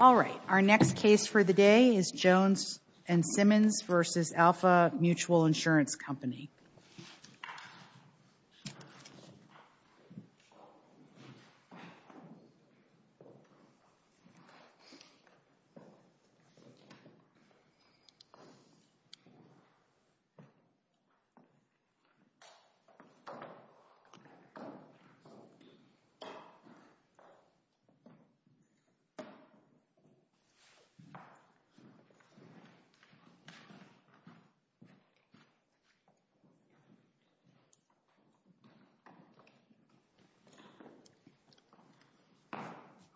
Alright, our next case for the day is Jones and Simmons v. Alfa Mutual Insurance Company.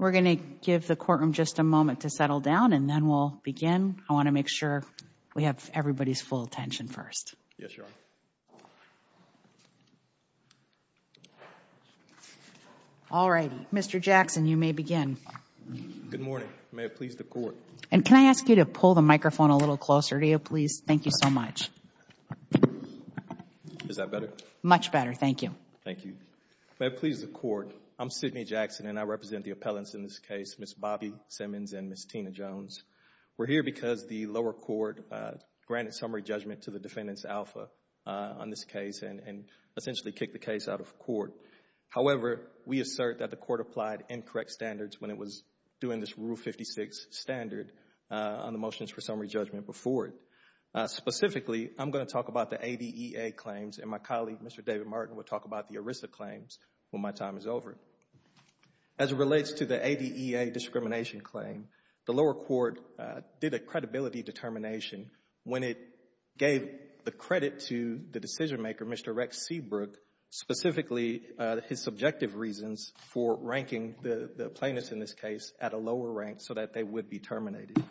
We're going to give the courtroom just a moment to settle down and then we'll begin. I want to make sure we have everybody's full attention first. Yes, Your Honor. Alright, Mr. Jackson, you may begin. Good morning. May it please the Court. And can I ask you to pull the microphone a little closer to you, please? Thank you so much. Is that better? Much better. Thank you. Thank you. May it please the Court. I'm Sidney Jackson and I represent the appellants in this case, Ms. Bobbie Simmons and Ms. Tina Jones. We're here because the lower court granted summary judgment to the defendant's alpha on this case and essentially kicked the case out of court. However, we assert that the court applied incorrect standards when it was doing this Rule 56 standard on the motions for summary judgment before it. Specifically, I'm going to talk about the ADEA claims and my colleague, Mr. David Martin, will talk about the ERISA claims when my time is over. As it relates to the ADEA discrimination claim, the lower court did a credibility determination when it gave the credit to the decision maker, Mr. Rex Seabrook, specifically his subjective reasons for ranking the plaintiffs in this case at a lower rank so that they would be terminated.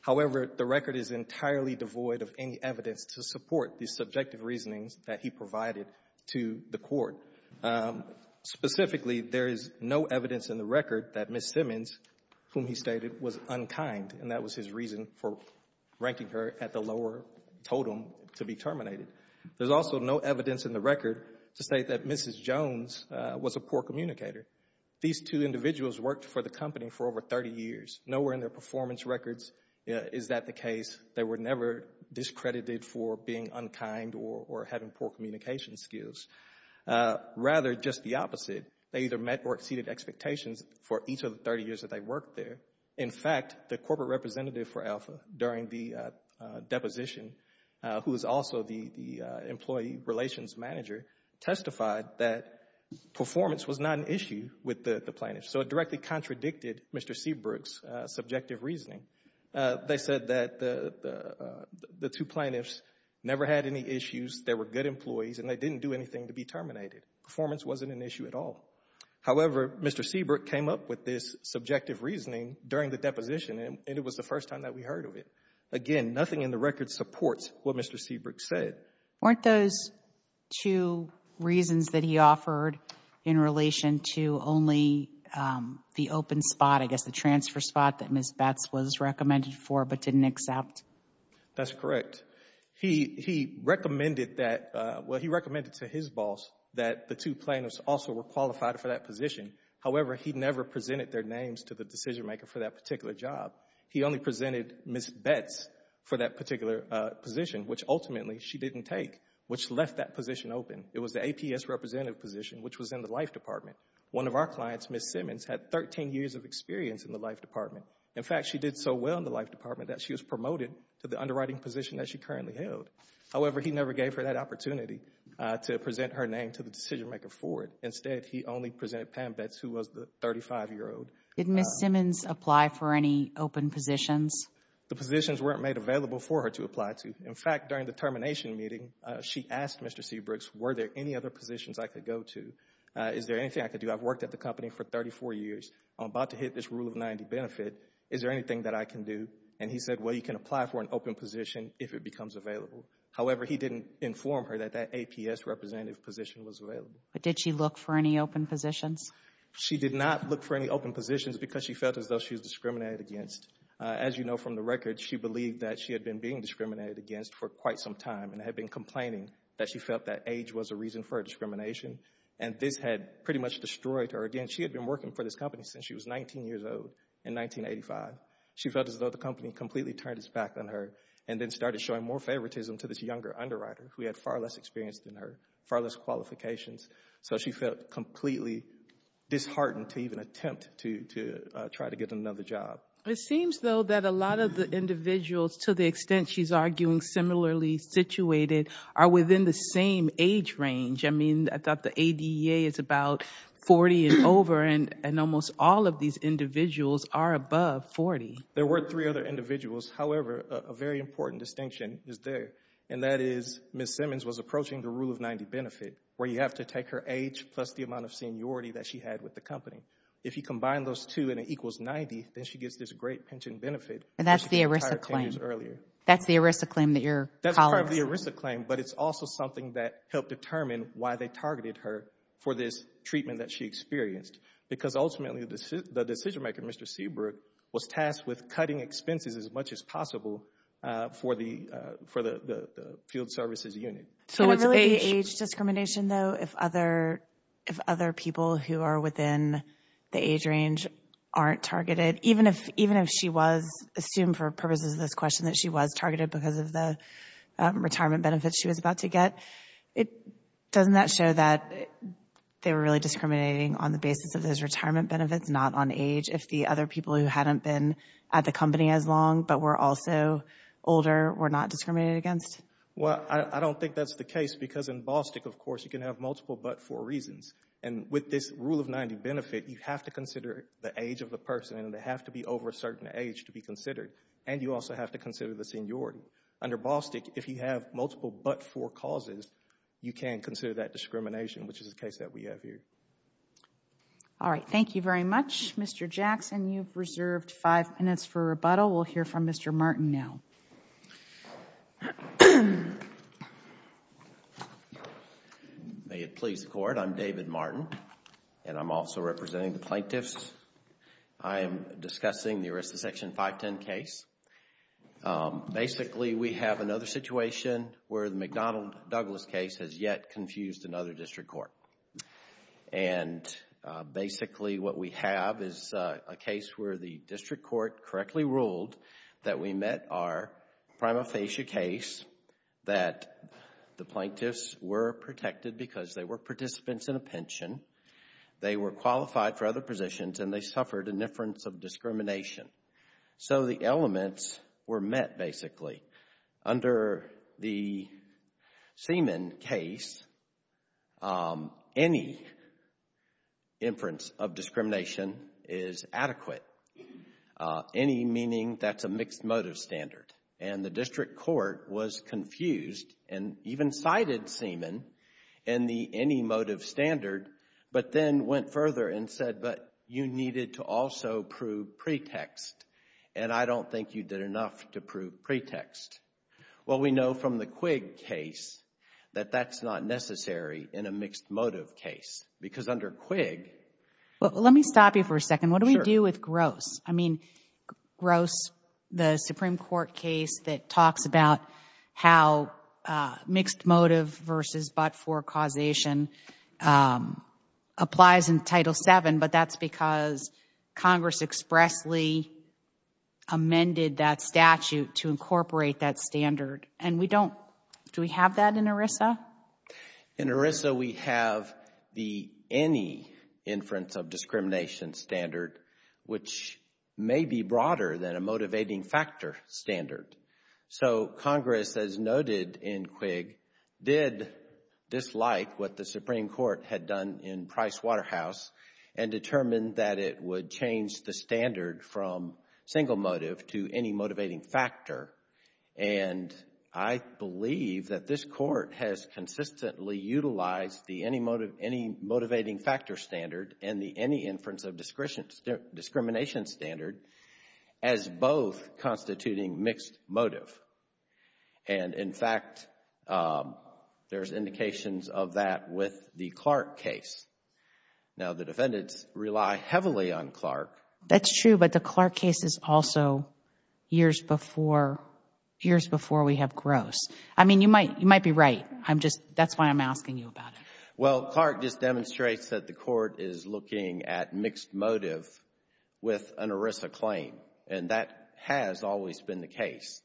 However, the record is entirely devoid of any evidence to support the subjective reasonings that he provided to the court. Specifically, there is no evidence in the record that Ms. Simmons, whom he stated was unkind, and that was his reason for ranking her at the lower totem to be terminated. There's also no evidence in the record to state that Mrs. Jones was a poor communicator. These two individuals worked for the company for over 30 years. Nowhere in their performance records is that the case. They were never discredited for being unkind or having poor communication skills. Rather, just the opposite, they either met or exceeded expectations for each of the 30 years that they worked there. In fact, the corporate representative for Alpha during the deposition, who is also the employee relations manager, testified that performance was not an issue with the plaintiffs. So it directly contradicted Mr. Seabrook's subjective reasoning. They said that the two plaintiffs never had any issues, they were good employees, and they didn't do anything to be terminated. Performance wasn't an issue at all. However, Mr. Seabrook came up with this subjective reasoning during the deposition, and it was the first time that we heard of it. Again, nothing in the record supports what Mr. Seabrook said. Weren't those two reasons that he offered in relation to only the open spot, I guess the transfer spot, that Ms. Betts was recommended for but didn't accept? That's correct. He recommended that, well, he recommended to his boss that the two plaintiffs also were qualified for that position. However, he never presented their names to the decision maker for that particular job. He only presented Ms. Betts for that particular position, which ultimately she didn't take, which left that position open. It was the APS representative position, which was in the life department. One of our clients, Ms. Simmons, had 13 years of experience in the life department. In fact, she did so well in the life department that she was promoted to the underwriting position that she currently held. However, he never gave her that opportunity to present her name to the decision maker for it. Instead, he only presented Pam Betts, who was the 35-year-old. Did Ms. Simmons apply for any open positions? The positions weren't made available for her to apply to. In fact, during the termination meeting, she asked Mr. Seabrook, were there any other positions I could go to? Is there anything I could do? I've worked at the company for 34 years. I'm about to hit this rule of 90 benefit. Is there anything that I can do? He said, well, you can apply for an open position if it becomes available. However, he didn't inform her that that APS representative position was available. Did she look for any open positions? She did not look for any open positions because she felt as though she was discriminated against. As you know from the record, she believed that she had been being discriminated against for quite some time and had been complaining that she felt that age was a reason for her This had pretty much destroyed her. Again, she had been working for this company since she was 19 years old in 1985. She felt as though the company completely turned its back on her and then started showing more favoritism to this younger underwriter who had far less experience than her, far less qualifications. So she felt completely disheartened to even attempt to try to get another job. It seems, though, that a lot of the individuals, to the extent she's arguing similarly situated, are within the same age range. I mean, I thought the ADA is about 40 and over, and almost all of these individuals are above 40. There were three other individuals. However, a very important distinction is there, and that is Ms. Simmons was approaching the rule of 90 benefit, where you have to take her age plus the amount of seniority that she had with the company. If you combine those two and it equals 90, then she gets this great pension benefit. And that's the ERISA claim. That's the ERISA claim that your colleague said. That's part of the ERISA claim, but it's also something that helped determine why they targeted her for this treatment that she experienced. Because ultimately, the decision-maker, Mr. Seabrook, was tasked with cutting expenses as much as possible for the field services unit. So it's age discrimination, though, if other people who are within the age range aren't targeted, even if she was assumed for purposes of this question that she was targeted because of the retirement benefits she was about to get. Doesn't that show that they were really discriminating on the basis of those retirement benefits, not on age, if the other people who hadn't been at the company as long, but were also older, were not discriminated against? Well, I don't think that's the case, because in Ballstick, of course, you can have multiple but-for reasons. And with this rule of 90 benefit, you have to consider the age of the person, and they have to be over a certain age to be considered. And you also have to consider the seniority. Under Ballstick, if you have multiple but-for causes, you can consider that discrimination, which is the case that we have here. All right. Thank you very much, Mr. Jackson. You've reserved five minutes for rebuttal. We'll hear from Mr. Martin now. May it please the Court. I'm David Martin, and I'm also representing the plaintiffs. I am discussing the Arrest of Section 510 case. Basically, we have another situation where the McDonnell-Douglas case has yet confused another district court. And basically, what we have is a case where the district court correctly ruled that we met our prima facie case that the plaintiffs were protected because they were participants in a pension, they were qualified for other positions, and they suffered indifference of discrimination. So the elements were met, basically. Under the Seaman case, any inference of discrimination is adequate. Any meaning that's a mixed motive standard. And the district court was confused and even cited Seaman in the any motive standard, but then went further and said, but you needed to also prove pretext. And I don't think you did enough to prove pretext. Well, we know from the Quigg case that that's not necessary in a mixed motive case. Because under Quigg... Well, let me stop you for a second. Sure. What do we do with Gross? I mean, Gross, the Supreme Court case that talks about how mixed motive versus but-for causation applies in Title VII, but that's because Congress expressly amended that statute to incorporate that standard. And we don't... do we have that in ERISA? In ERISA, we have the any inference of discrimination standard, which may be broader than a motivating factor standard. So, Congress, as noted in Quigg, did dislike what the Supreme Court had done in Price-Waterhouse and determined that it would change the standard from single motive to any motivating factor. And I believe that this Court has consistently utilized the any motivating factor standard and the any inference of discrimination standard as both constituting mixed motive. And, in fact, there's indications of that with the Clark case. Now, the defendants rely heavily on Clark. That's true, but the Clark case is also years before we have Gross. I mean, you might be right. I'm just... that's why I'm asking you about it. Well, Clark just demonstrates that the Court is looking at mixed motive with an ERISA claim. And that has always been the case,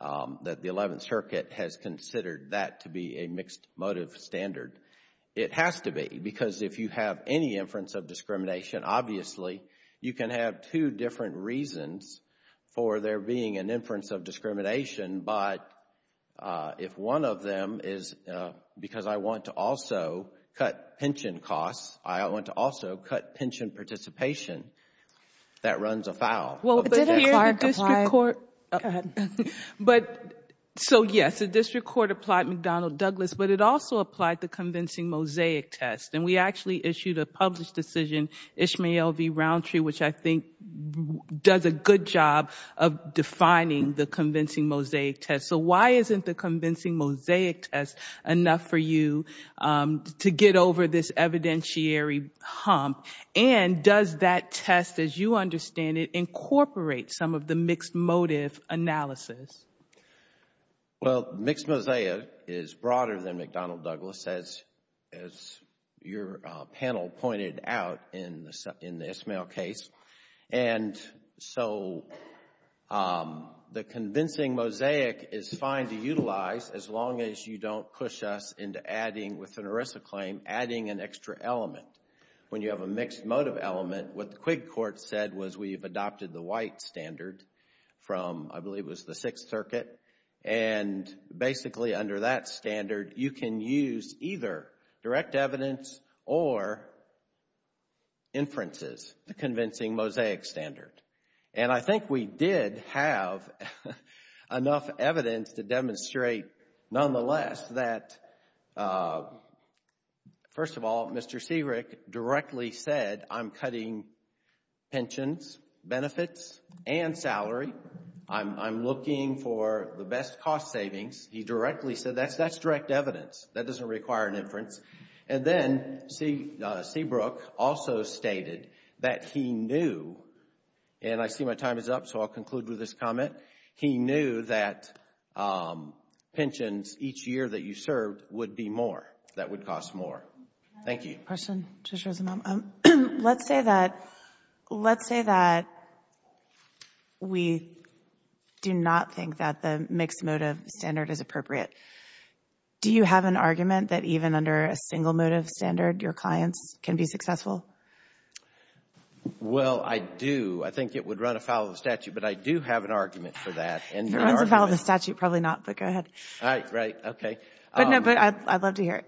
that the Eleventh Circuit has considered that to be a mixed motive standard. It has to be, because if you have any inference of discrimination, obviously, you can have two different reasons for there being an inference of discrimination. But if one of them is because I want to also cut pension costs, I want to also cut pension participation, that runs afoul. Did a Clark apply... So, yes, the District Court applied McDonnell-Douglas, but it also applied the convincing mosaic test. And we actually issued a published decision, Ishmael v. Roundtree, which I think does a good job of defining the convincing mosaic test. So why isn't the convincing mosaic test enough for you to get over this evidentiary hump? And does that test, as you understand it, incorporate some of the mixed motive analysis? Well, mixed mosaic is broader than McDonnell-Douglas, as your panel pointed out in the Ishmael case. And so the convincing mosaic is fine to utilize as long as you don't push us into adding, with an ERISA claim, adding an extra element. When you have a mixed motive element, what the Quig Court said was we've adopted the white standard from, I believe it was the Sixth Circuit. And basically, under that standard, you can use either direct evidence or inferences. The convincing mosaic standard. And I think we did have enough evidence to demonstrate, nonetheless, that, first of all, Mr. Seabrook directly said I'm cutting pensions, benefits, and salary. I'm looking for the best cost savings. He directly said that's direct evidence. That doesn't require an inference. And then Seabrook also stated that he knew, and I see my time is up, so I'll conclude with this comment. He knew that pensions each year that you served would be more, that would cost more. Thank you. Question, Judge Rosenbaum. Let's say that we do not think that the mixed motive standard is appropriate. Do you have an argument that even under a single motive standard, your clients can be successful? Well, I do. I think it would run afoul of the statute, but I do have an argument for that. If it runs afoul of the statute, probably not, but go ahead. Right, okay. But I'd love to hear it.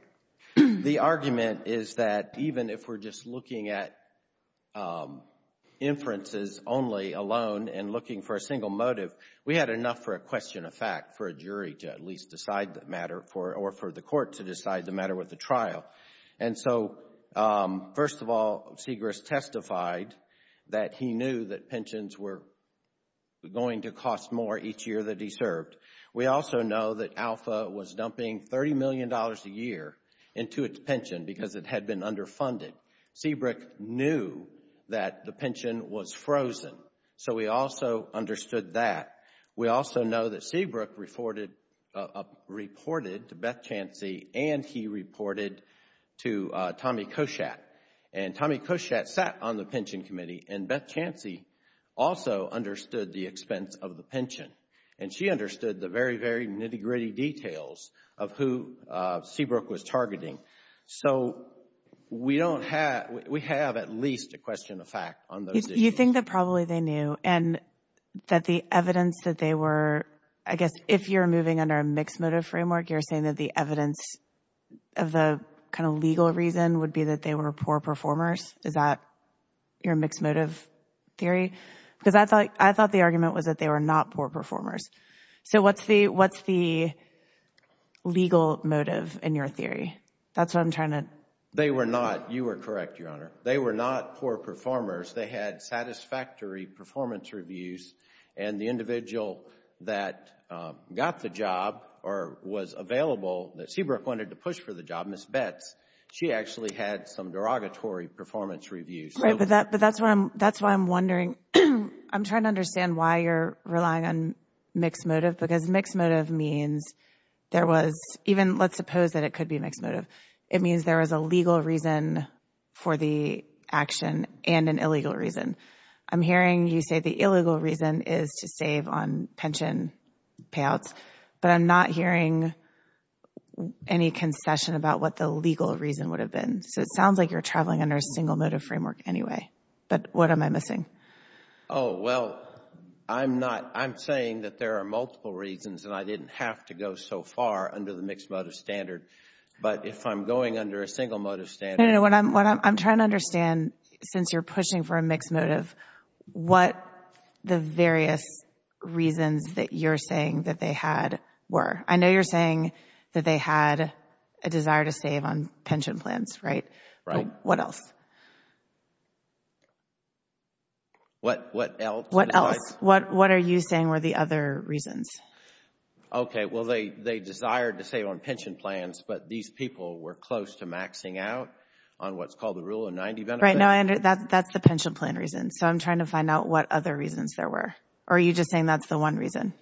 The argument is that even if we're just looking at inferences only alone and looking for a single motive, we had enough for a question of fact for a jury to at least decide the matter or for the court to decide the matter with the trial. And so, first of all, Segrist testified that he knew that pensions were going to cost more each year that he served. We also know that Alpha was dumping $30 million a year into its pension because it had been underfunded. Seabrook knew that the pension was frozen. So we also understood that. We also know that Seabrook reported to Beth Chancy, and he reported to Tommy Koshat. And Tommy Koshat sat on the pension committee, and Beth Chancy also understood the expense of the pension. And she understood the very, very nitty-gritty details of who Seabrook was targeting. So we have at least a question of fact on those issues. You think that probably they knew and that the evidence that they were—I guess if you're moving under a mixed motive framework, you're saying that the evidence of the kind of legal reason would be that they were poor performers? Is that your mixed motive theory? Because I thought the argument was that they were not poor performers. So what's the legal motive in your theory? That's what I'm trying to— They were not—you were correct, Your Honor. They were not poor performers. They had satisfactory performance reviews. And the individual that got the job or was available, that Seabrook wanted to push for the job, Ms. Betts, she actually had some derogatory performance reviews. Right, but that's why I'm wondering. I'm trying to understand why you're relying on mixed motive, because mixed motive means there was— even let's suppose that it could be mixed motive. It means there was a legal reason for the action and an illegal reason. I'm hearing you say the illegal reason is to save on pension payouts, but I'm not hearing any concession about what the legal reason would have been. So it sounds like you're traveling under a single motive framework anyway, but what am I missing? Oh, well, I'm not—I'm saying that there are multiple reasons, and I didn't have to go so far under the mixed motive standard. But if I'm going under a single motive standard— No, no, no. I'm trying to understand, since you're pushing for a mixed motive, what the various reasons that you're saying that they had were. I know you're saying that they had a desire to save on pension plans, right? Right. What else? What else? What are you saying were the other reasons? Okay, well, they desired to save on pension plans, but these people were close to maxing out on what's called the Rule of 90 benefit. Right. That's the pension plan reason, so I'm trying to find out what other reasons there were. Or are you just saying that's the one reason?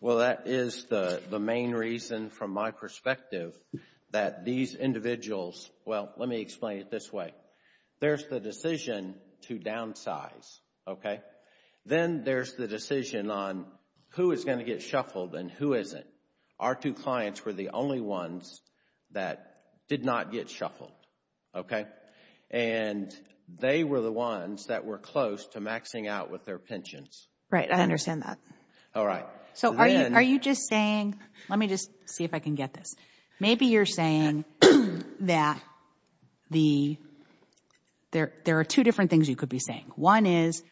Well, that is the main reason from my perspective that these individuals— well, let me explain it this way. There's the decision to downsize, okay? Then there's the decision on who is going to get shuffled and who isn't. Our two clients were the only ones that did not get shuffled, okay? And they were the ones that were close to maxing out with their pensions. Right, I understand that. All right. So are you just saying—let me just see if I can get this. Maybe you're saying that there are two different things you could be saying. One is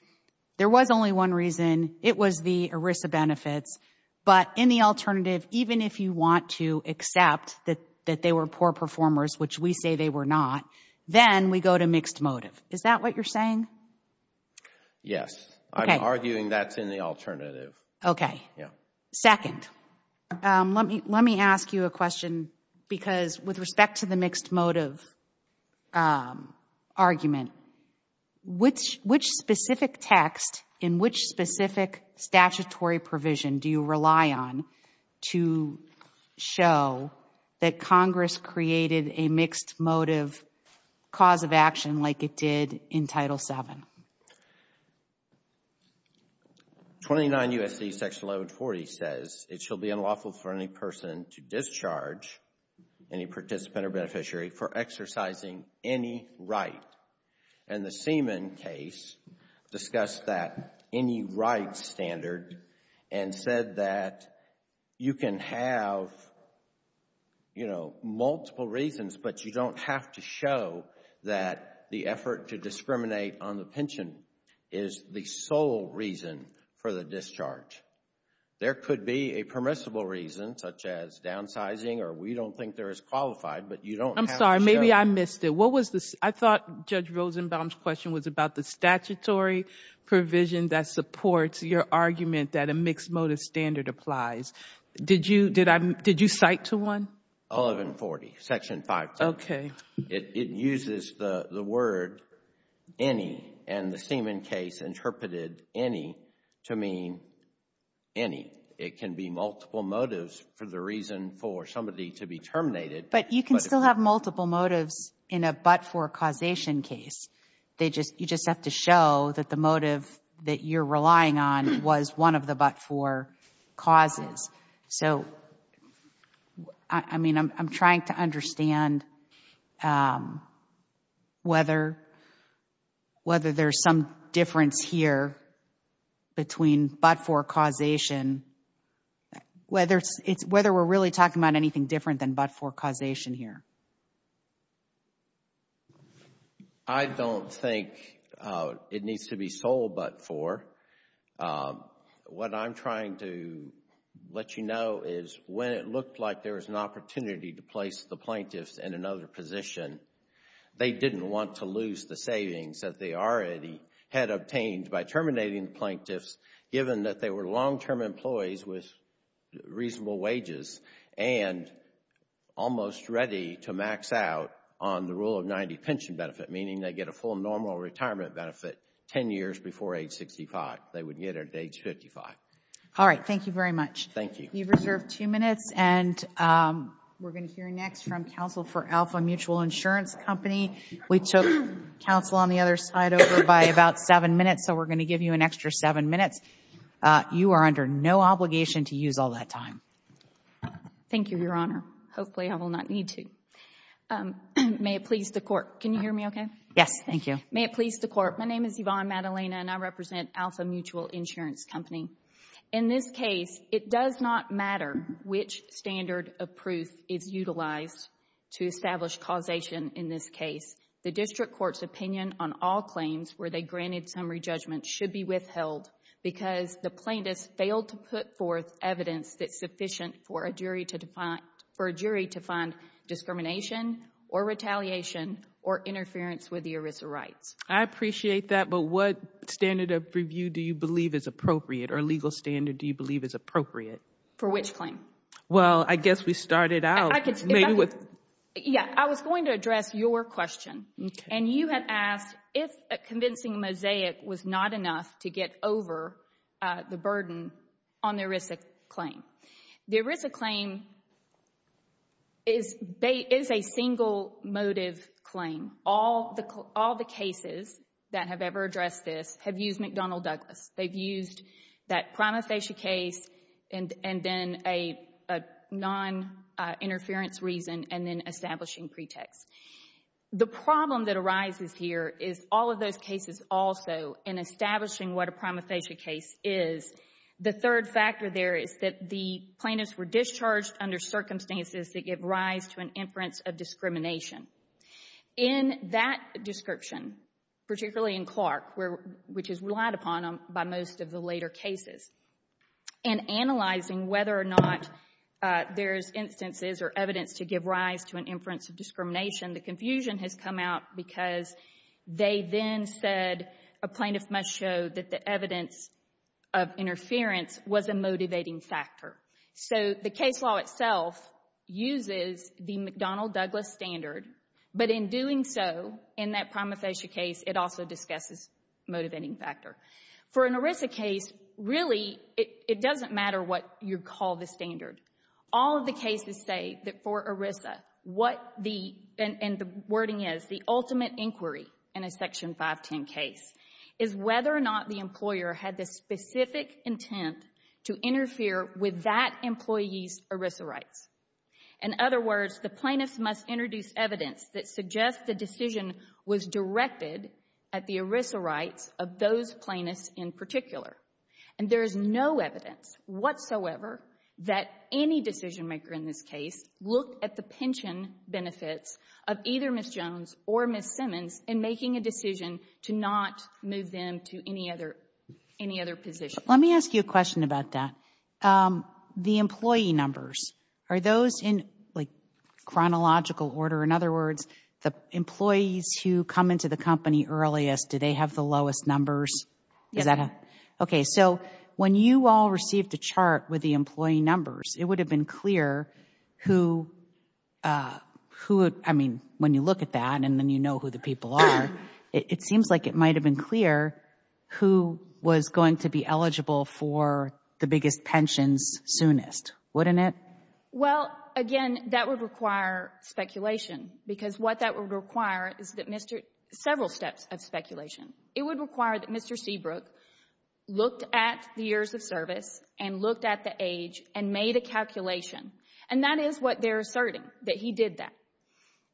there was only one reason. It was the ERISA benefits. But in the alternative, even if you want to accept that they were poor performers, which we say they were not, then we go to mixed motive. Is that what you're saying? Yes. Okay. I'm arguing that's in the alternative. Okay. Yeah. Second, let me ask you a question because with respect to the mixed motive argument, which specific text in which specific statutory provision do you rely on to show that Congress created a mixed motive cause of action like it did in Title VII? 29 U.S.C. Section 1140 says it shall be unlawful for any person to discharge, any participant or beneficiary, for exercising any right. And the Seaman case discussed that any right standard and said that you can have, you know, multiple reasons, but you don't have to show that the effort to discriminate on the pension is the sole reason for the discharge. There could be a permissible reason such as downsizing or we don't think they're as qualified, but you don't have to show it. Maybe I missed it. I thought Judge Rosenbaum's question was about the statutory provision that supports your argument that a mixed motive standard applies. Did you cite to one? 1140, Section 5. Okay. It uses the word any, and the Seaman case interpreted any to mean any. It can be multiple motives for the reason for somebody to be terminated. But you can still have multiple motives in a but-for causation case. You just have to show that the motive that you're relying on was one of the but-for causes. So, I mean, I'm trying to understand whether there's some difference here between but-for causation, whether we're really talking about anything different than but-for causation here. I don't think it needs to be sole but-for. What I'm trying to let you know is when it looked like there was an opportunity to place the plaintiffs in another position, they didn't want to lose the savings that they already had obtained by terminating the plaintiffs, given that they were long-term employees with reasonable wages and almost ready to max out on the Rule of 90 pension benefit, meaning they get a full normal retirement benefit 10 years before age 65. They would get it at age 55. All right. Thank you very much. Thank you. You've reserved two minutes, and we're going to hear next from counsel for Alpha Mutual Insurance Company. We took counsel on the other side over by about seven minutes, so we're going to give you an extra seven minutes. You are under no obligation to use all that time. Thank you, Your Honor. Hopefully I will not need to. May it please the Court. Can you hear me okay? Yes. Thank you. May it please the Court. My name is Yvonne Madalena, and I represent Alpha Mutual Insurance Company. In this case, it does not matter which standard of proof is utilized to establish causation in this case. The district court's opinion on all claims where they granted summary judgment should be withheld because the plaintiffs failed to put forth evidence that's sufficient for a jury to find discrimination or retaliation or interference with the ERISA rights. I appreciate that, but what standard of review do you believe is appropriate or legal standard do you believe is appropriate? For which claim? Well, I guess we started out maybe with— Yeah, I was going to address your question, and you had asked if a convincing mosaic was not enough to get over the burden on the ERISA claim. The ERISA claim is a single motive claim. All the cases that have ever addressed this have used McDonnell Douglas. They've used that prima facie case and then a non-interference reason and then establishing pretext. The problem that arises here is all of those cases also in establishing what a prima facie case is, the third factor there is that the plaintiffs were discharged under circumstances that give rise to an inference of discrimination. In that description, particularly in Clark, which is relied upon by most of the later cases, in analyzing whether or not there's instances or evidence to give rise to an inference of discrimination, the confusion has come out because they then said a plaintiff must show that the evidence of interference was a motivating factor. So the case law itself uses the McDonnell Douglas standard, but in doing so, in that prima facie case, it also discusses motivating factor. For an ERISA case, really, it doesn't matter what you call the standard. All of the cases say that for ERISA, what the — and the wording is, the ultimate inquiry in a Section 510 case is whether or not the employer had the specific intent to interfere with that employee's ERISA rights. In other words, the plaintiffs must introduce evidence that suggests the decision was directed at the ERISA rights of those plaintiffs in particular. And there is no evidence whatsoever that any decision maker in this case looked at the pension benefits of either Ms. Jones or Ms. Simmons in making a decision to not move them to any other position. Let me ask you a question about that. The employee numbers, are those in, like, chronological order? In other words, the employees who come into the company earliest, do they have the lowest numbers? Yes. So when you all received a chart with the employee numbers, it would have been clear who, I mean, when you look at that and then you know who the people are, it seems like it might have been clear who was going to be eligible for the biggest pensions soonest, wouldn't it? Well, again, that would require speculation because what that would require is several steps of speculation. It would require that Mr. Seabrook looked at the years of service and looked at the age and made a calculation, and that is what they're asserting, that he did that.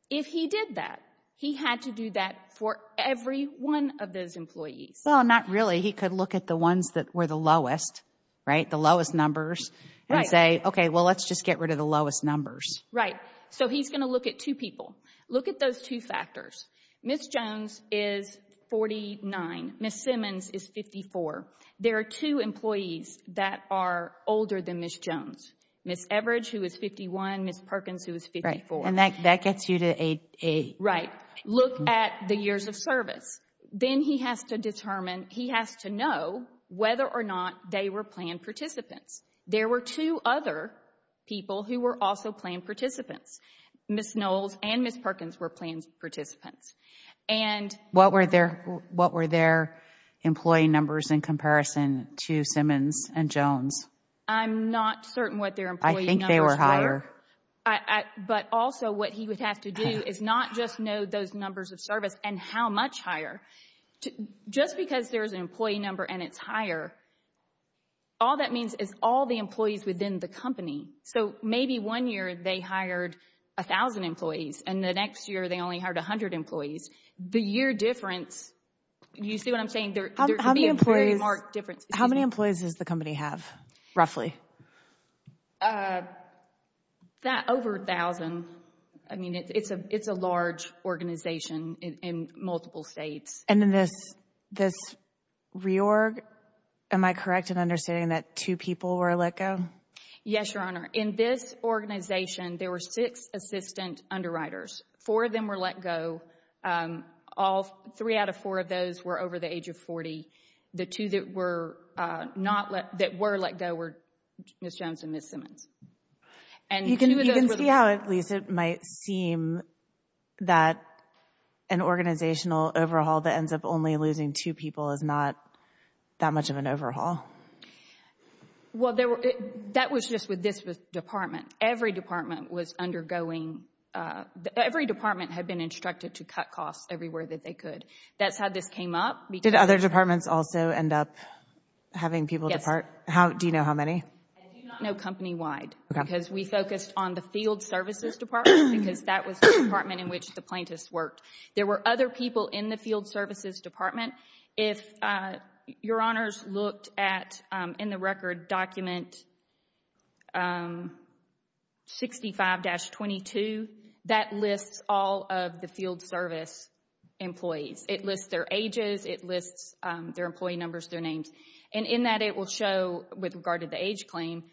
If he did that, he had to do that for every one of those employees. Well, not really. He could look at the ones that were the lowest, right, the lowest numbers, and say, okay, well, let's just get rid of the lowest numbers. Right. So he's going to look at two people. Look at those two factors. Ms. Jones is 49. Ms. Simmons is 54. There are two employees that are older than Ms. Jones, Ms. Everidge, who is 51, Ms. Perkins, who is 54. Right, and that gets you to 88. Right. Look at the years of service. Then he has to know whether or not they were planned participants. There were two other people who were also planned participants. Ms. Knowles and Ms. Perkins were planned participants. What were their employee numbers in comparison to Simmons and Jones? I'm not certain what their employee numbers were. I think they were higher. But also what he would have to do is not just know those numbers of service and how much higher. Just because there's an employee number and it's higher, all that means is all the employees within the company. So maybe one year they hired 1,000 employees, and the next year they only hired 100 employees. The year difference, you see what I'm saying? There could be a very marked difference. How many employees does the company have, roughly? Over 1,000. I mean, it's a large organization in multiple states. And in this reorg, am I correct in understanding that two people were let go? Yes, Your Honor. In this organization, there were six assistant underwriters. Four of them were let go. Three out of four of those were over the age of 40. The two that were let go were Ms. Jones and Ms. Simmons. You can see how, at least, it might seem that an organizational overhaul that ends up only losing two people is not that much of an overhaul. Well, that was just with this department. Every department was undergoing, every department had been instructed to cut costs everywhere that they could. That's how this came up. Did other departments also end up having people depart? Do you know how many? I do not know company-wide because we focused on the field services department because that was the department in which the plaintiffs worked. There were other people in the field services department. If Your Honors looked at, in the record, document 65-22, that lists all of the field service employees. It lists their ages. It lists their employee numbers, their names. In that, it will show, with regard to the age claim,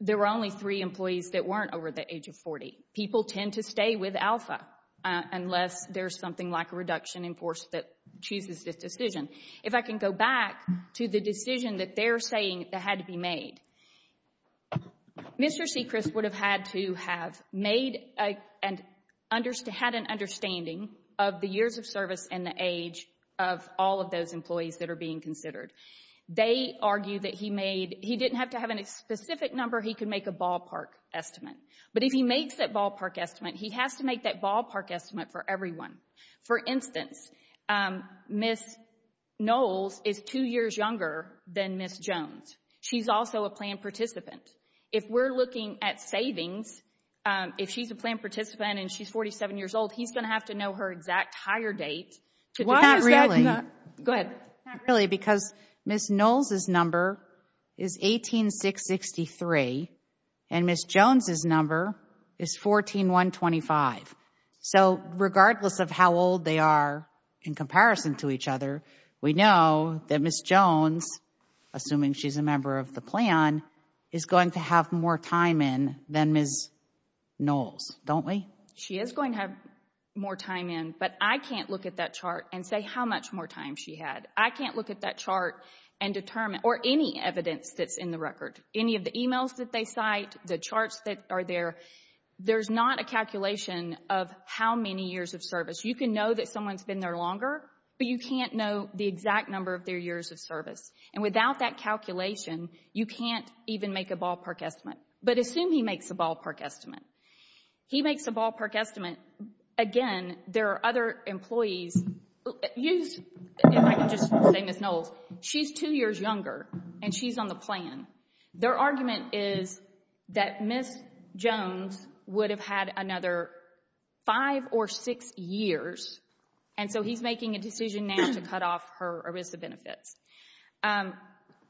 there were only three employees that weren't over the age of 40. People tend to stay with Alpha unless there's something like a reduction in force that chooses this decision. If I can go back to the decision that they're saying that had to be made, Mr. Sechrist would have had to have made and had an understanding of the years of service and the age of all of those employees that are being considered. They argue that he made, he didn't have to have a specific number. He could make a ballpark estimate. But if he makes that ballpark estimate, he has to make that ballpark estimate for everyone. For instance, Ms. Knowles is two years younger than Ms. Jones. She's also a planned participant. If we're looking at savings, if she's a planned participant and she's 47 years old, he's going to have to know her exact hire date. Why is that? Go ahead. Not really, because Ms. Knowles' number is 18663, and Ms. Jones' number is 14125. So regardless of how old they are in comparison to each other, we know that Ms. Jones, assuming she's a member of the plan, is going to have more time in than Ms. Knowles, don't we? She is going to have more time in, but I can't look at that chart and say how much more time she had. I can't look at that chart and determine, or any evidence that's in the record, any of the emails that they cite, the charts that are there. There's not a calculation of how many years of service. You can know that someone's been there longer, but you can't know the exact number of their years of service. And without that calculation, you can't even make a ballpark estimate. But assume he makes a ballpark estimate. He makes a ballpark estimate. Again, there are other employees. If I can just say, Ms. Knowles, she's two years younger and she's on the plan. Their argument is that Ms. Jones would have had another five or six years, and so he's making a decision now to cut off her ERISA benefits.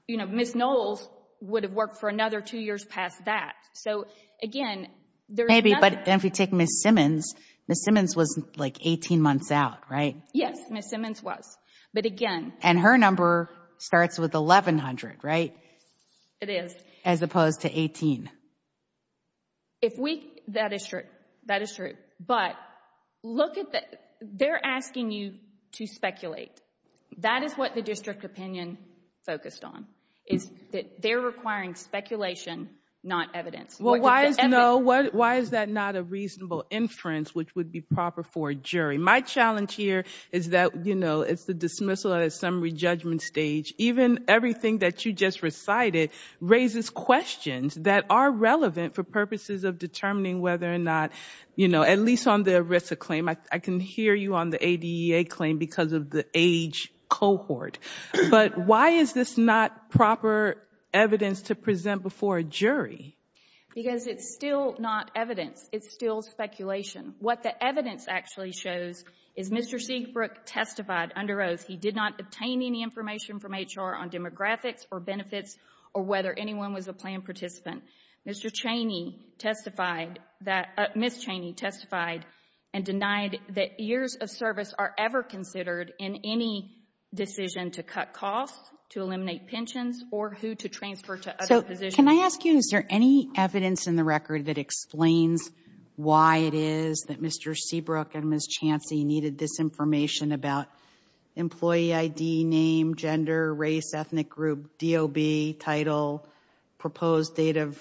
Ms. Knowles would have worked for another two years past that. So, again, there's nothing— Maybe, but if you take Ms. Simmons, Ms. Simmons was like 18 months out, right? Yes, Ms. Simmons was, but again— And her number starts with 1100, right? It is. As opposed to 18. If we—that is true, that is true. But look at the—they're asking you to speculate. That is what the district opinion focused on, is that they're requiring speculation, not evidence. Well, why is that not a reasonable inference, which would be proper for a jury? My challenge here is that, you know, it's the dismissal at a summary judgment stage. Even everything that you just recited raises questions that are relevant for purposes of determining whether or not, you know, at least on the ERISA claim, I can hear you on the ADEA claim because of the age cohort. But why is this not proper evidence to present before a jury? Because it's still not evidence. It's still speculation. What the evidence actually shows is Mr. Siegbrook testified under oath. He did not obtain any information from HR on demographics or benefits or whether anyone was a planned participant. Mr. Cheney testified that—Ms. Cheney testified and denied that years of service are ever considered in any decision to cut costs, to eliminate pensions, or who to transfer to other positions. So can I ask you, is there any evidence in the record that explains why it is that employee ID, name, gender, race, ethnic group, DOB, title, proposed date of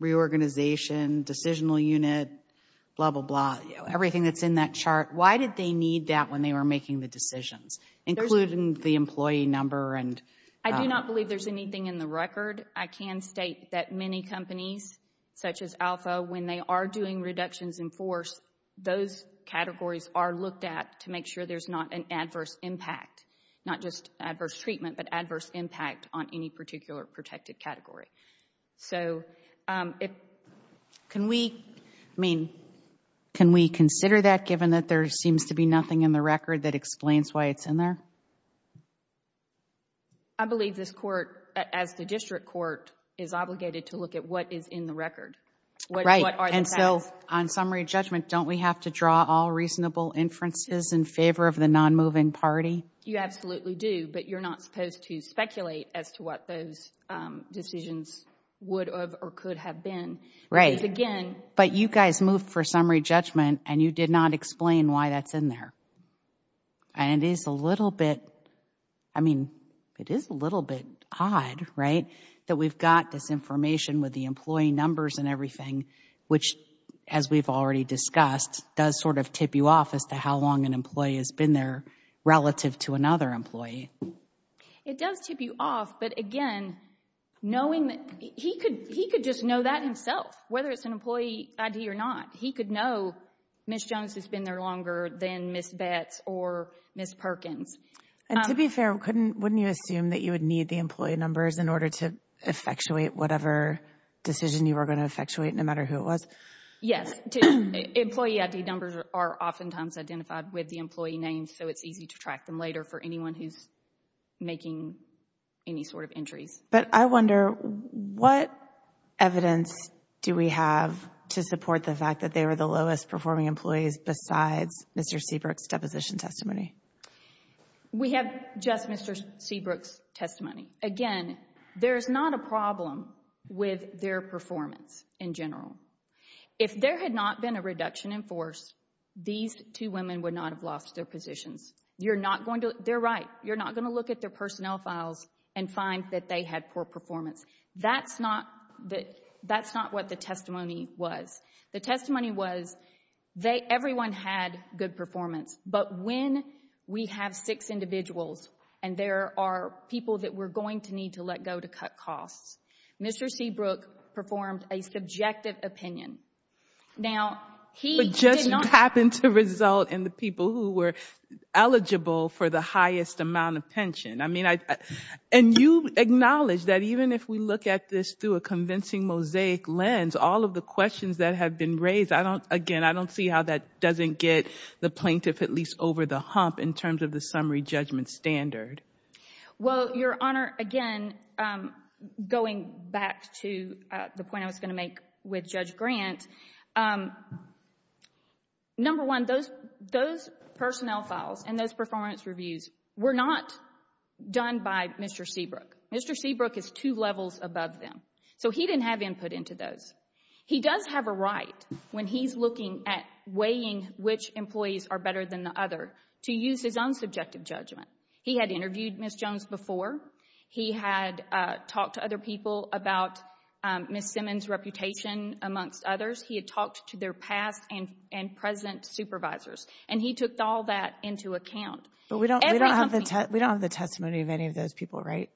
reorganization, decisional unit, blah, blah, blah, everything that's in that chart, why did they need that when they were making the decisions, including the employee number? I do not believe there's anything in the record. I can state that many companies, such as Alpha, when they are doing reductions in force, those categories are looked at to make sure there's not an adverse impact, not just adverse treatment, but adverse impact on any particular protected category. So if— Can we, I mean, can we consider that given that there seems to be nothing in the record that explains why it's in there? I believe this Court, as the district court, is obligated to look at what is in the record. Right, and so on summary judgment, don't we have to draw all reasonable inferences in favor of the non-moving party? You absolutely do, but you're not supposed to speculate as to what those decisions would have or could have been. Right, but you guys moved for summary judgment, and you did not explain why that's in there. And it is a little bit, I mean, it is a little bit odd, right, that we've got this information with the employee numbers and everything, which, as we've already discussed, does sort of tip you off as to how long an employee has been there relative to another employee. It does tip you off, but again, knowing that—he could just know that himself, whether it's an employee ID or not. He could know Ms. Jones has been there longer than Ms. Betts or Ms. Perkins. And to be fair, wouldn't you assume that you would need the employee numbers in order to effectuate whatever decision you were going to effectuate, no matter who it was? Yes. Employee ID numbers are oftentimes identified with the employee names, so it's easy to track them later for anyone who's making any sort of entries. But I wonder, what evidence do we have to support the fact that they were the lowest performing employees besides Mr. Seabrook's deposition testimony? We have just Mr. Seabrook's testimony. Again, there's not a problem with their performance in general. If there had not been a reduction in force, these two women would not have lost their positions. You're not going to—they're right. You're not going to look at their personnel files and find that they had poor performance. That's not what the testimony was. The testimony was, everyone had good performance. But when we have six individuals and there are people that we're going to need to let go to cut costs, Mr. Seabrook performed a subjective opinion. Now, he did not— But it just happened to result in the people who were eligible for the highest amount of pension. I mean, and you acknowledge that even if we look at this through a convincing mosaic lens, all of the questions that have been raised, I don't—again, I don't see how that doesn't get the plaintiff at least over the hump in terms of the summary judgment standard. Well, Your Honor, again, going back to the point I was going to make with Judge Grant, number one, those personnel files and those performance reviews were not done by Mr. Seabrook. Mr. Seabrook is two levels above them. So he didn't have input into those. He does have a right when he's looking at weighing which employees are better than the other to use his own subjective judgment. He had interviewed Ms. Jones before. He had talked to other people about Ms. Simmons' reputation amongst others. He had talked to their past and present supervisors. And he took all that into account. But we don't have the testimony of any of those people, right?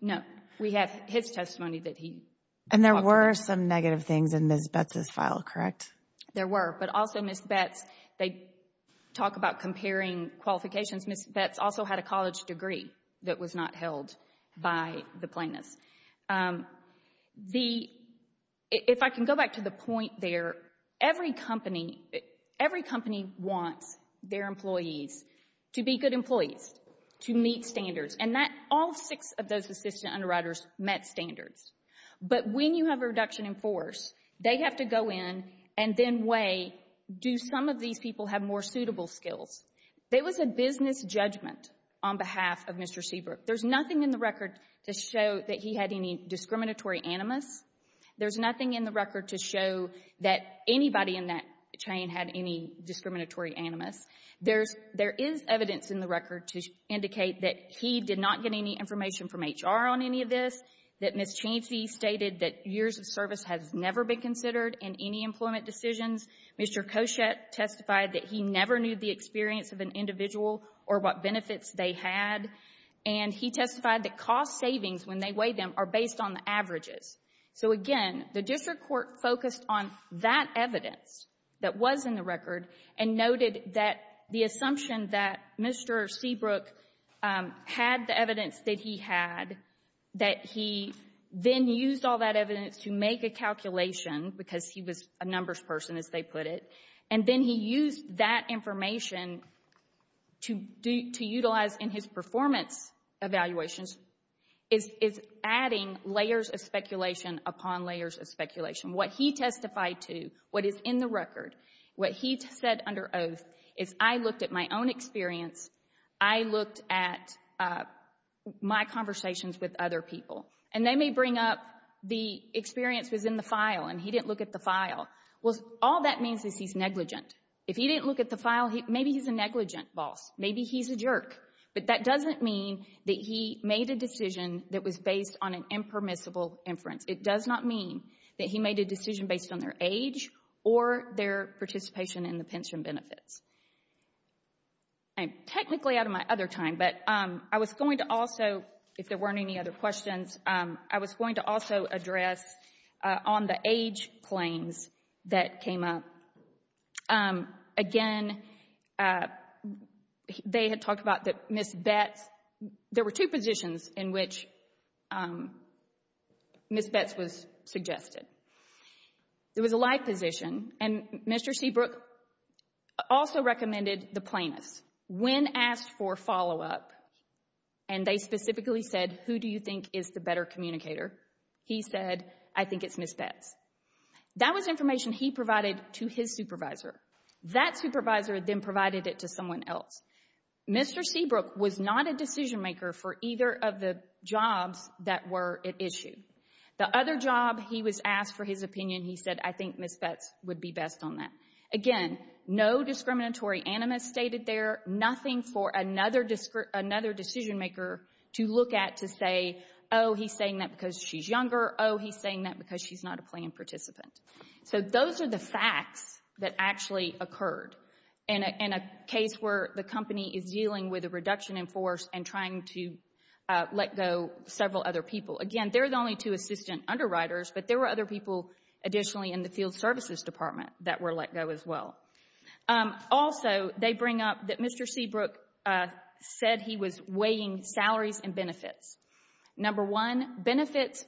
No, we have his testimony that he talked about. And there were some negative things in Ms. Betz's file, correct? There were. But also Ms. Betz, they talk about comparing qualifications. Ms. Betz also had a college degree that was not held by the plaintiffs. If I can go back to the point there, every company wants their employees to be good employees, to meet standards, and all six of those assistant underwriters met standards. But when you have a reduction in force, they have to go in and then weigh, do some of these people have more suitable skills? It was a business judgment on behalf of Mr. Seabrook. There's nothing in the record to show that he had any discriminatory animus. There's nothing in the record to show that anybody in that chain had any discriminatory animus. There is evidence in the record to indicate that he did not get any information from HR on any of this, that Ms. Cheney stated that years of service has never been considered in any employment decisions. Mr. Koshet testified that he never knew the experience of an individual or what benefits they had. And he testified that cost savings, when they weighed them, are based on the averages. So, again, the district court focused on that evidence that was in the record and noted that the assumption that Mr. Seabrook had the evidence that he had, that he then used all that evidence to make a calculation, because he was a numbers person, as they put it, and then he used that information to utilize in his performance evaluations, is adding layers of speculation upon layers of speculation. What he testified to, what is in the record, what he said under oath is, I looked at my own experience, I looked at my conversations with other people. And they may bring up the experience was in the file and he didn't look at the file. Well, all that means is he's negligent. If he didn't look at the file, maybe he's a negligent boss. Maybe he's a jerk. But that doesn't mean that he made a decision that was based on an impermissible inference. It does not mean that he made a decision based on their age or their participation in the pension benefits. I'm technically out of my other time, but I was going to also, if there weren't any other questions, I was going to also address on the age claims that came up. Again, they had talked about Ms. Betts. There were two positions in which Ms. Betts was suggested. There was a like position, and Mr. Seabrook also recommended the plaintiffs. When asked for follow-up, and they specifically said, who do you think is the better communicator, he said, I think it's Ms. Betts. That was information he provided to his supervisor. That supervisor then provided it to someone else. Mr. Seabrook was not a decision maker for either of the jobs that were at issue. The other job he was asked for his opinion, he said, I think Ms. Betts would be best on that. Again, no discriminatory animus stated there, nothing for another decision maker to look at to say, oh, he's saying that because she's younger. Or, oh, he's saying that because she's not a plaintiff participant. So those are the facts that actually occurred in a case where the company is dealing with a reduction in force and trying to let go several other people. Again, there were only two assistant underwriters, but there were other people additionally in the field services department that were let go as well. Also, they bring up that Mr. Seabrook said he was weighing salaries and benefits. Number one, benefits,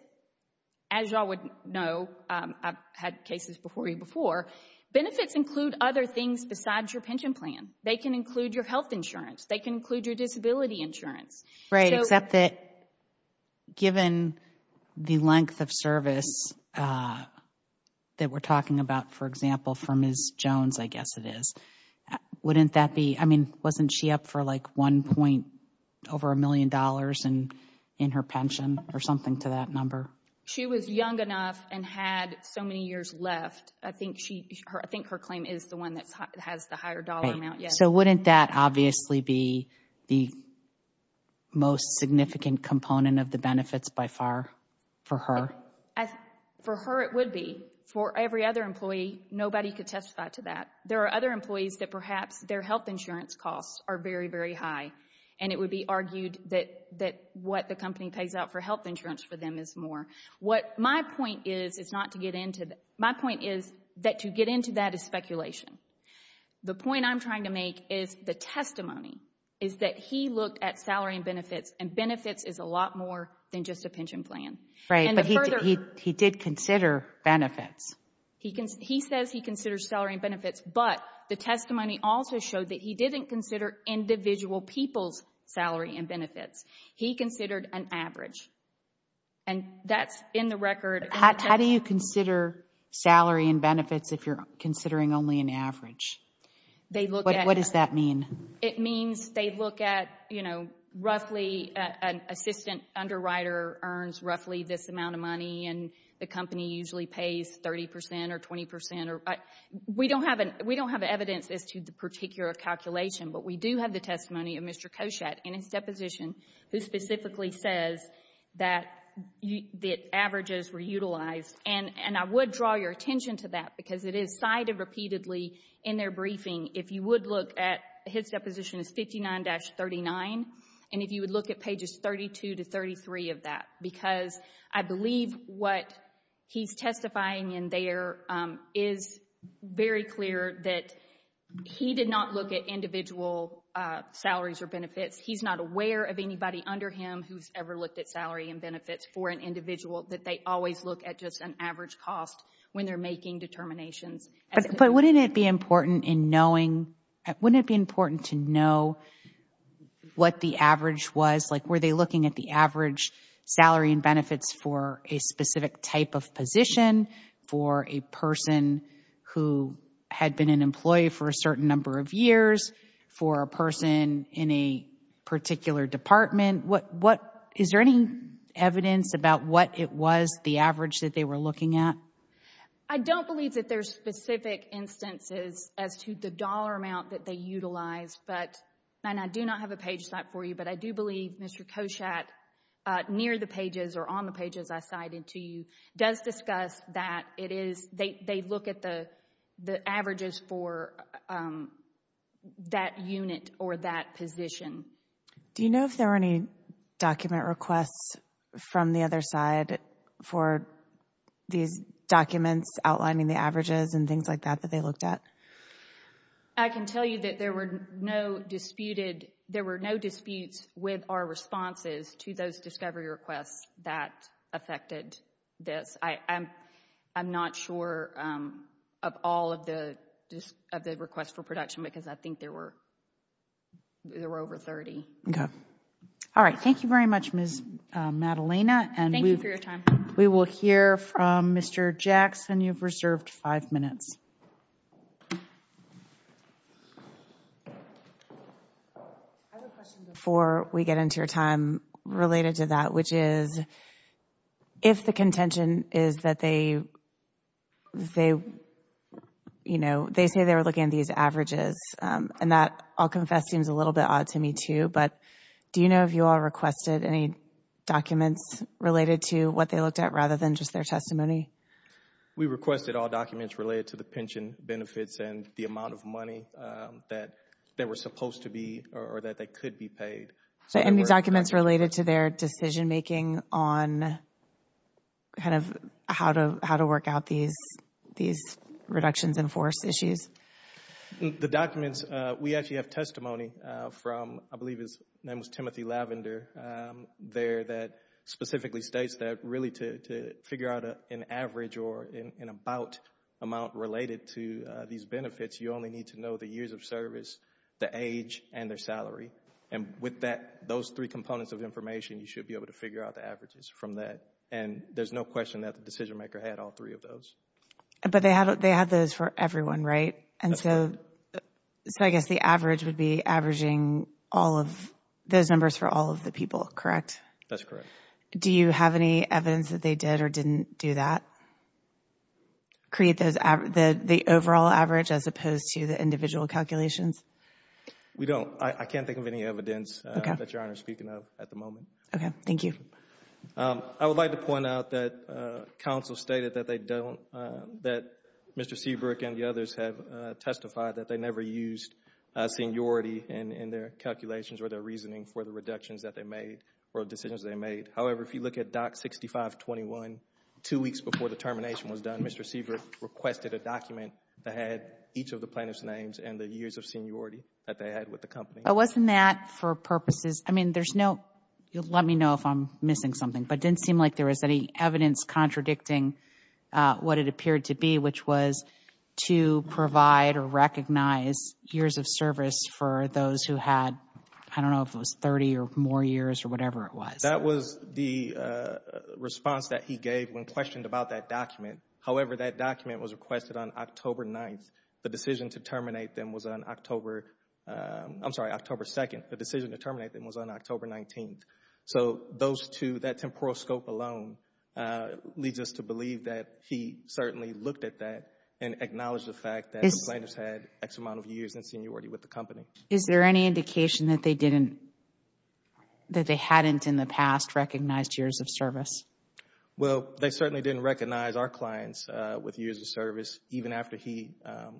as you all would know, I've had cases before you before, benefits include other things besides your pension plan. They can include your health insurance. They can include your disability insurance. Right, except that given the length of service that we're talking about, for example, for Ms. Jones, I guess it is, wouldn't that be, I mean, wasn't she up for like one point over a million dollars in her pension or something to that number? She was young enough and had so many years left. I think her claim is the one that has the higher dollar amount. So wouldn't that obviously be the most significant component of the benefits by far for her? For her it would be. For every other employee, nobody could testify to that. There are other employees that perhaps their health insurance costs are very, very high, and it would be argued that what the company pays out for health insurance for them is more. What my point is is not to get into that. My point is that to get into that is speculation. The point I'm trying to make is the testimony is that he looked at salary and benefits, and benefits is a lot more than just a pension plan. Right, but he did consider benefits. He says he considers salary and benefits, but the testimony also showed that he didn't consider individual people's salary and benefits. He considered an average, and that's in the record. How do you consider salary and benefits if you're considering only an average? What does that mean? It means they look at, you know, roughly an assistant underwriter earns roughly this amount of money, and the company usually pays 30 percent or 20 percent. We don't have evidence as to the particular calculation, but we do have the testimony of Mr. Koshat in his deposition who specifically says that averages were utilized, and I would draw your attention to that because it is cited repeatedly in their briefing. If you would look at his deposition, it's 59-39, and if you would look at pages 32 to 33 of that because I believe what he's testifying in there is very clear that he did not look at individual salaries or benefits. He's not aware of anybody under him who's ever looked at salary and benefits for an individual, that they always look at just an average cost when they're making determinations. But wouldn't it be important to know what the average was? Like, were they looking at the average salary and benefits for a specific type of position, for a person who had been an employee for a certain number of years, for a person in a particular department? Is there any evidence about what it was, the average that they were looking at? I don't believe that there's specific instances as to the dollar amount that they utilized, and I do not have a page site for you, but I do believe Mr. Koshat, near the pages or on the pages I cited to you, does discuss that they look at the averages for that unit or that position. Do you know if there were any document requests from the other side for these documents outlining the averages and things like that that they looked at? I can tell you that there were no disputes with our responses to those discovery requests that affected this. I'm not sure of all of the requests for production because I think there were over 30. Okay. All right, thank you very much, Ms. Madalena. Thank you for your time. We will hear from Mr. Jackson. You've reserved five minutes. I have a question before we get into your time related to that, which is if the contention is that they say they were looking at these averages, and that, I'll confess, seems a little bit odd to me too, but do you know if you all requested any documents related to what they looked at rather than just their testimony? We requested all documents related to the pension benefits and the amount of money that they were supposed to be or that they could be paid. Any documents related to their decision-making on how to work out these reductions in force issues? The documents, we actually have testimony from, I believe his name was Timothy Lavender, there that specifically states that really to figure out an average or an about amount related to these benefits, you only need to know the years of service, the age, and their salary. And with those three components of information, you should be able to figure out the averages from that. And there's no question that the decision-maker had all three of those. But they had those for everyone, right? And so I guess the average would be averaging all of those numbers for all of the people, correct? That's correct. Do you have any evidence that they did or didn't do that? Create the overall average as opposed to the individual calculations? We don't. I can't think of any evidence that Your Honor is speaking of at the moment. Okay. Thank you. I would like to point out that counsel stated that they don't, that Mr. Seabrook and the others have testified that they never used seniority in their calculations or their reasoning for the reductions that they made or decisions they made. However, if you look at Doc 6521, two weeks before the termination was done, Mr. Seabrook requested a document that had each of the plaintiff's names and the years of seniority that they had with the company. But wasn't that for purposes, I mean, there's no, let me know if I'm missing something, but it didn't seem like there was any evidence contradicting what it appeared to be, which was to provide or recognize years of service for those who had, I don't know if it was 30 or more years or whatever it was. That was the response that he gave when questioned about that document. However, that document was requested on October 9th. The decision to terminate them was on October, I'm sorry, October 2nd. The decision to terminate them was on October 19th. So those two, that temporal scope alone leads us to believe that he certainly looked at that and acknowledged the fact that the plaintiff's had X amount of years in seniority with the company. Is there any indication that they didn't, that they hadn't in the past recognized years of service? Well, they certainly didn't recognize our clients with years of service, even after he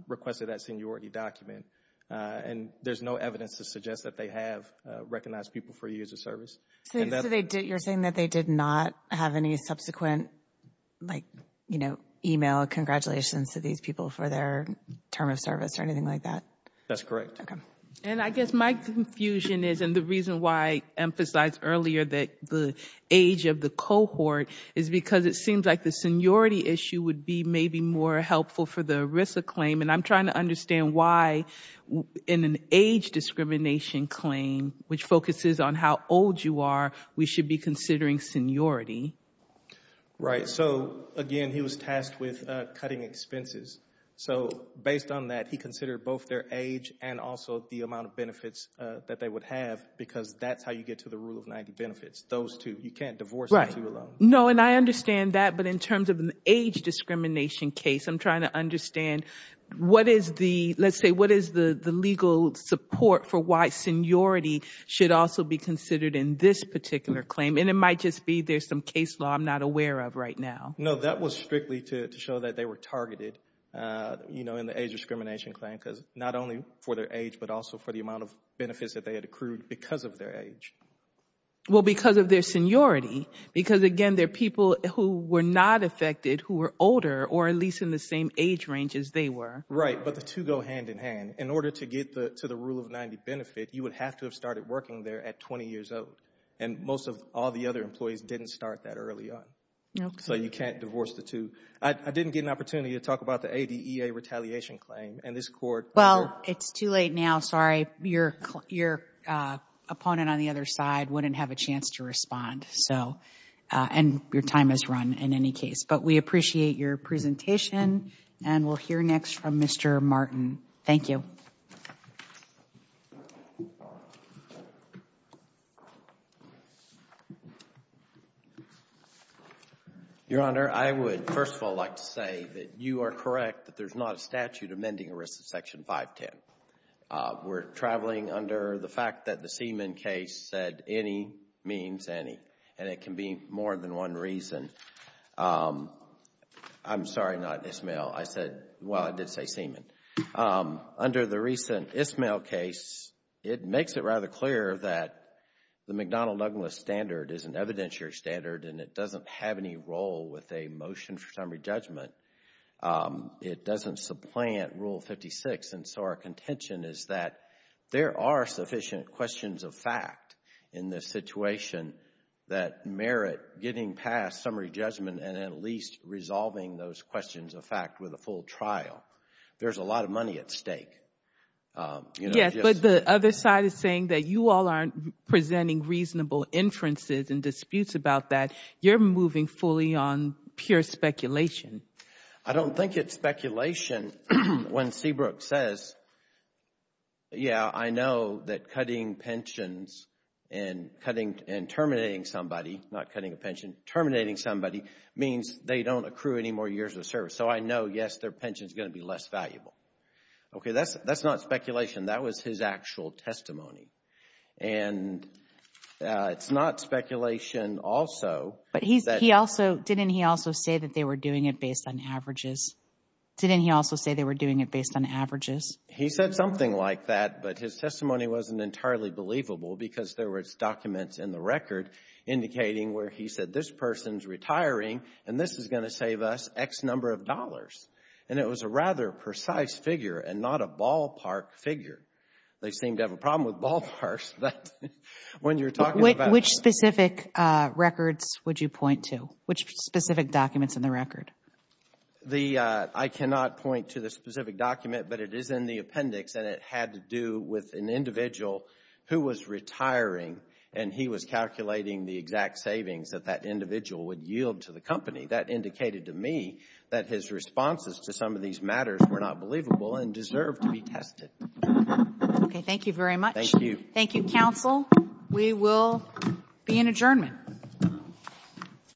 requested that seniority document. And there's no evidence to suggest that they have recognized people for years of service. So you're saying that they did not have any subsequent, like, you know, email congratulations to these people for their term of service or anything like that? That's correct. Okay. And I guess my confusion is, and the reason why I emphasized earlier that the age of the cohort is because it seems like the seniority issue would be maybe more helpful for the ERISA claim. And I'm trying to understand why in an age discrimination claim, which focuses on how old you are, we should be considering seniority. Right. So, again, he was tasked with cutting expenses. So based on that, he considered both their age and also the amount of benefits that they would have because that's how you get to the rule of 90 benefits, those two. You can't divorce the two alone. No, and I understand that. But in terms of an age discrimination case, I'm trying to understand what is the, let's say, what is the legal support for why seniority should also be considered in this particular claim? And it might just be there's some case law I'm not aware of right now. No, that was strictly to show that they were targeted, you know, in the age discrimination claim, because not only for their age, but also for the amount of benefits that they had accrued because of their age. Well, because of their seniority. Because, again, they're people who were not affected, who were older, or at least in the same age range as they were. Right, but the two go hand in hand. In order to get to the rule of 90 benefit, you would have to have started working there at 20 years old. And most of all the other employees didn't start that early on. So you can't divorce the two. I didn't get an opportunity to talk about the ADEA retaliation claim. Well, it's too late now, sorry. Your opponent on the other side wouldn't have a chance to respond. And your time has run in any case. But we appreciate your presentation, and we'll hear next from Mr. Martin. Thank you. Your Honor, I would first of all like to say that you are correct that there's not a statute amending the risks of Section 510. We're traveling under the fact that the Seaman case said any means any, and it can be more than one reason. I'm sorry, not Ismail. I said, well, I did say Seaman. Under the recent Ismail case, it makes it rather clear that the McDonnell-Douglas standard is an evidentiary standard, and it doesn't have any role with a motion for summary judgment. It doesn't supplant Rule 56. And so our contention is that there are sufficient questions of fact in this situation that merit getting past summary judgment and at least resolving those questions of fact with a full trial. There's a lot of money at stake. Yes, but the other side is saying that you all aren't presenting reasonable inferences and disputes about that. You're moving fully on pure speculation. I don't think it's speculation when Seabrook says, yeah, I know that cutting pensions and terminating somebody, not cutting a pension, terminating somebody means they don't accrue any more years of service. So I know, yes, their pension is going to be less valuable. Okay, that's not speculation. That was his actual testimony. And it's not speculation also. But didn't he also say that they were doing it based on averages? Didn't he also say they were doing it based on averages? He said something like that, but his testimony wasn't entirely believable because there were documents in the record indicating where he said, this person is retiring and this is going to save us X number of dollars. And it was a rather precise figure and not a ballpark figure. They seem to have a problem with ballparks. Which specific records would you point to? Which specific documents in the record? I cannot point to the specific document, but it is in the appendix and it had to do with an individual who was retiring and he was calculating the exact savings that that individual would yield to the company. That indicated to me that his responses to some of these matters were not believable and deserved to be tested. Okay, thank you very much. Thank you, counsel. We will be in adjournment.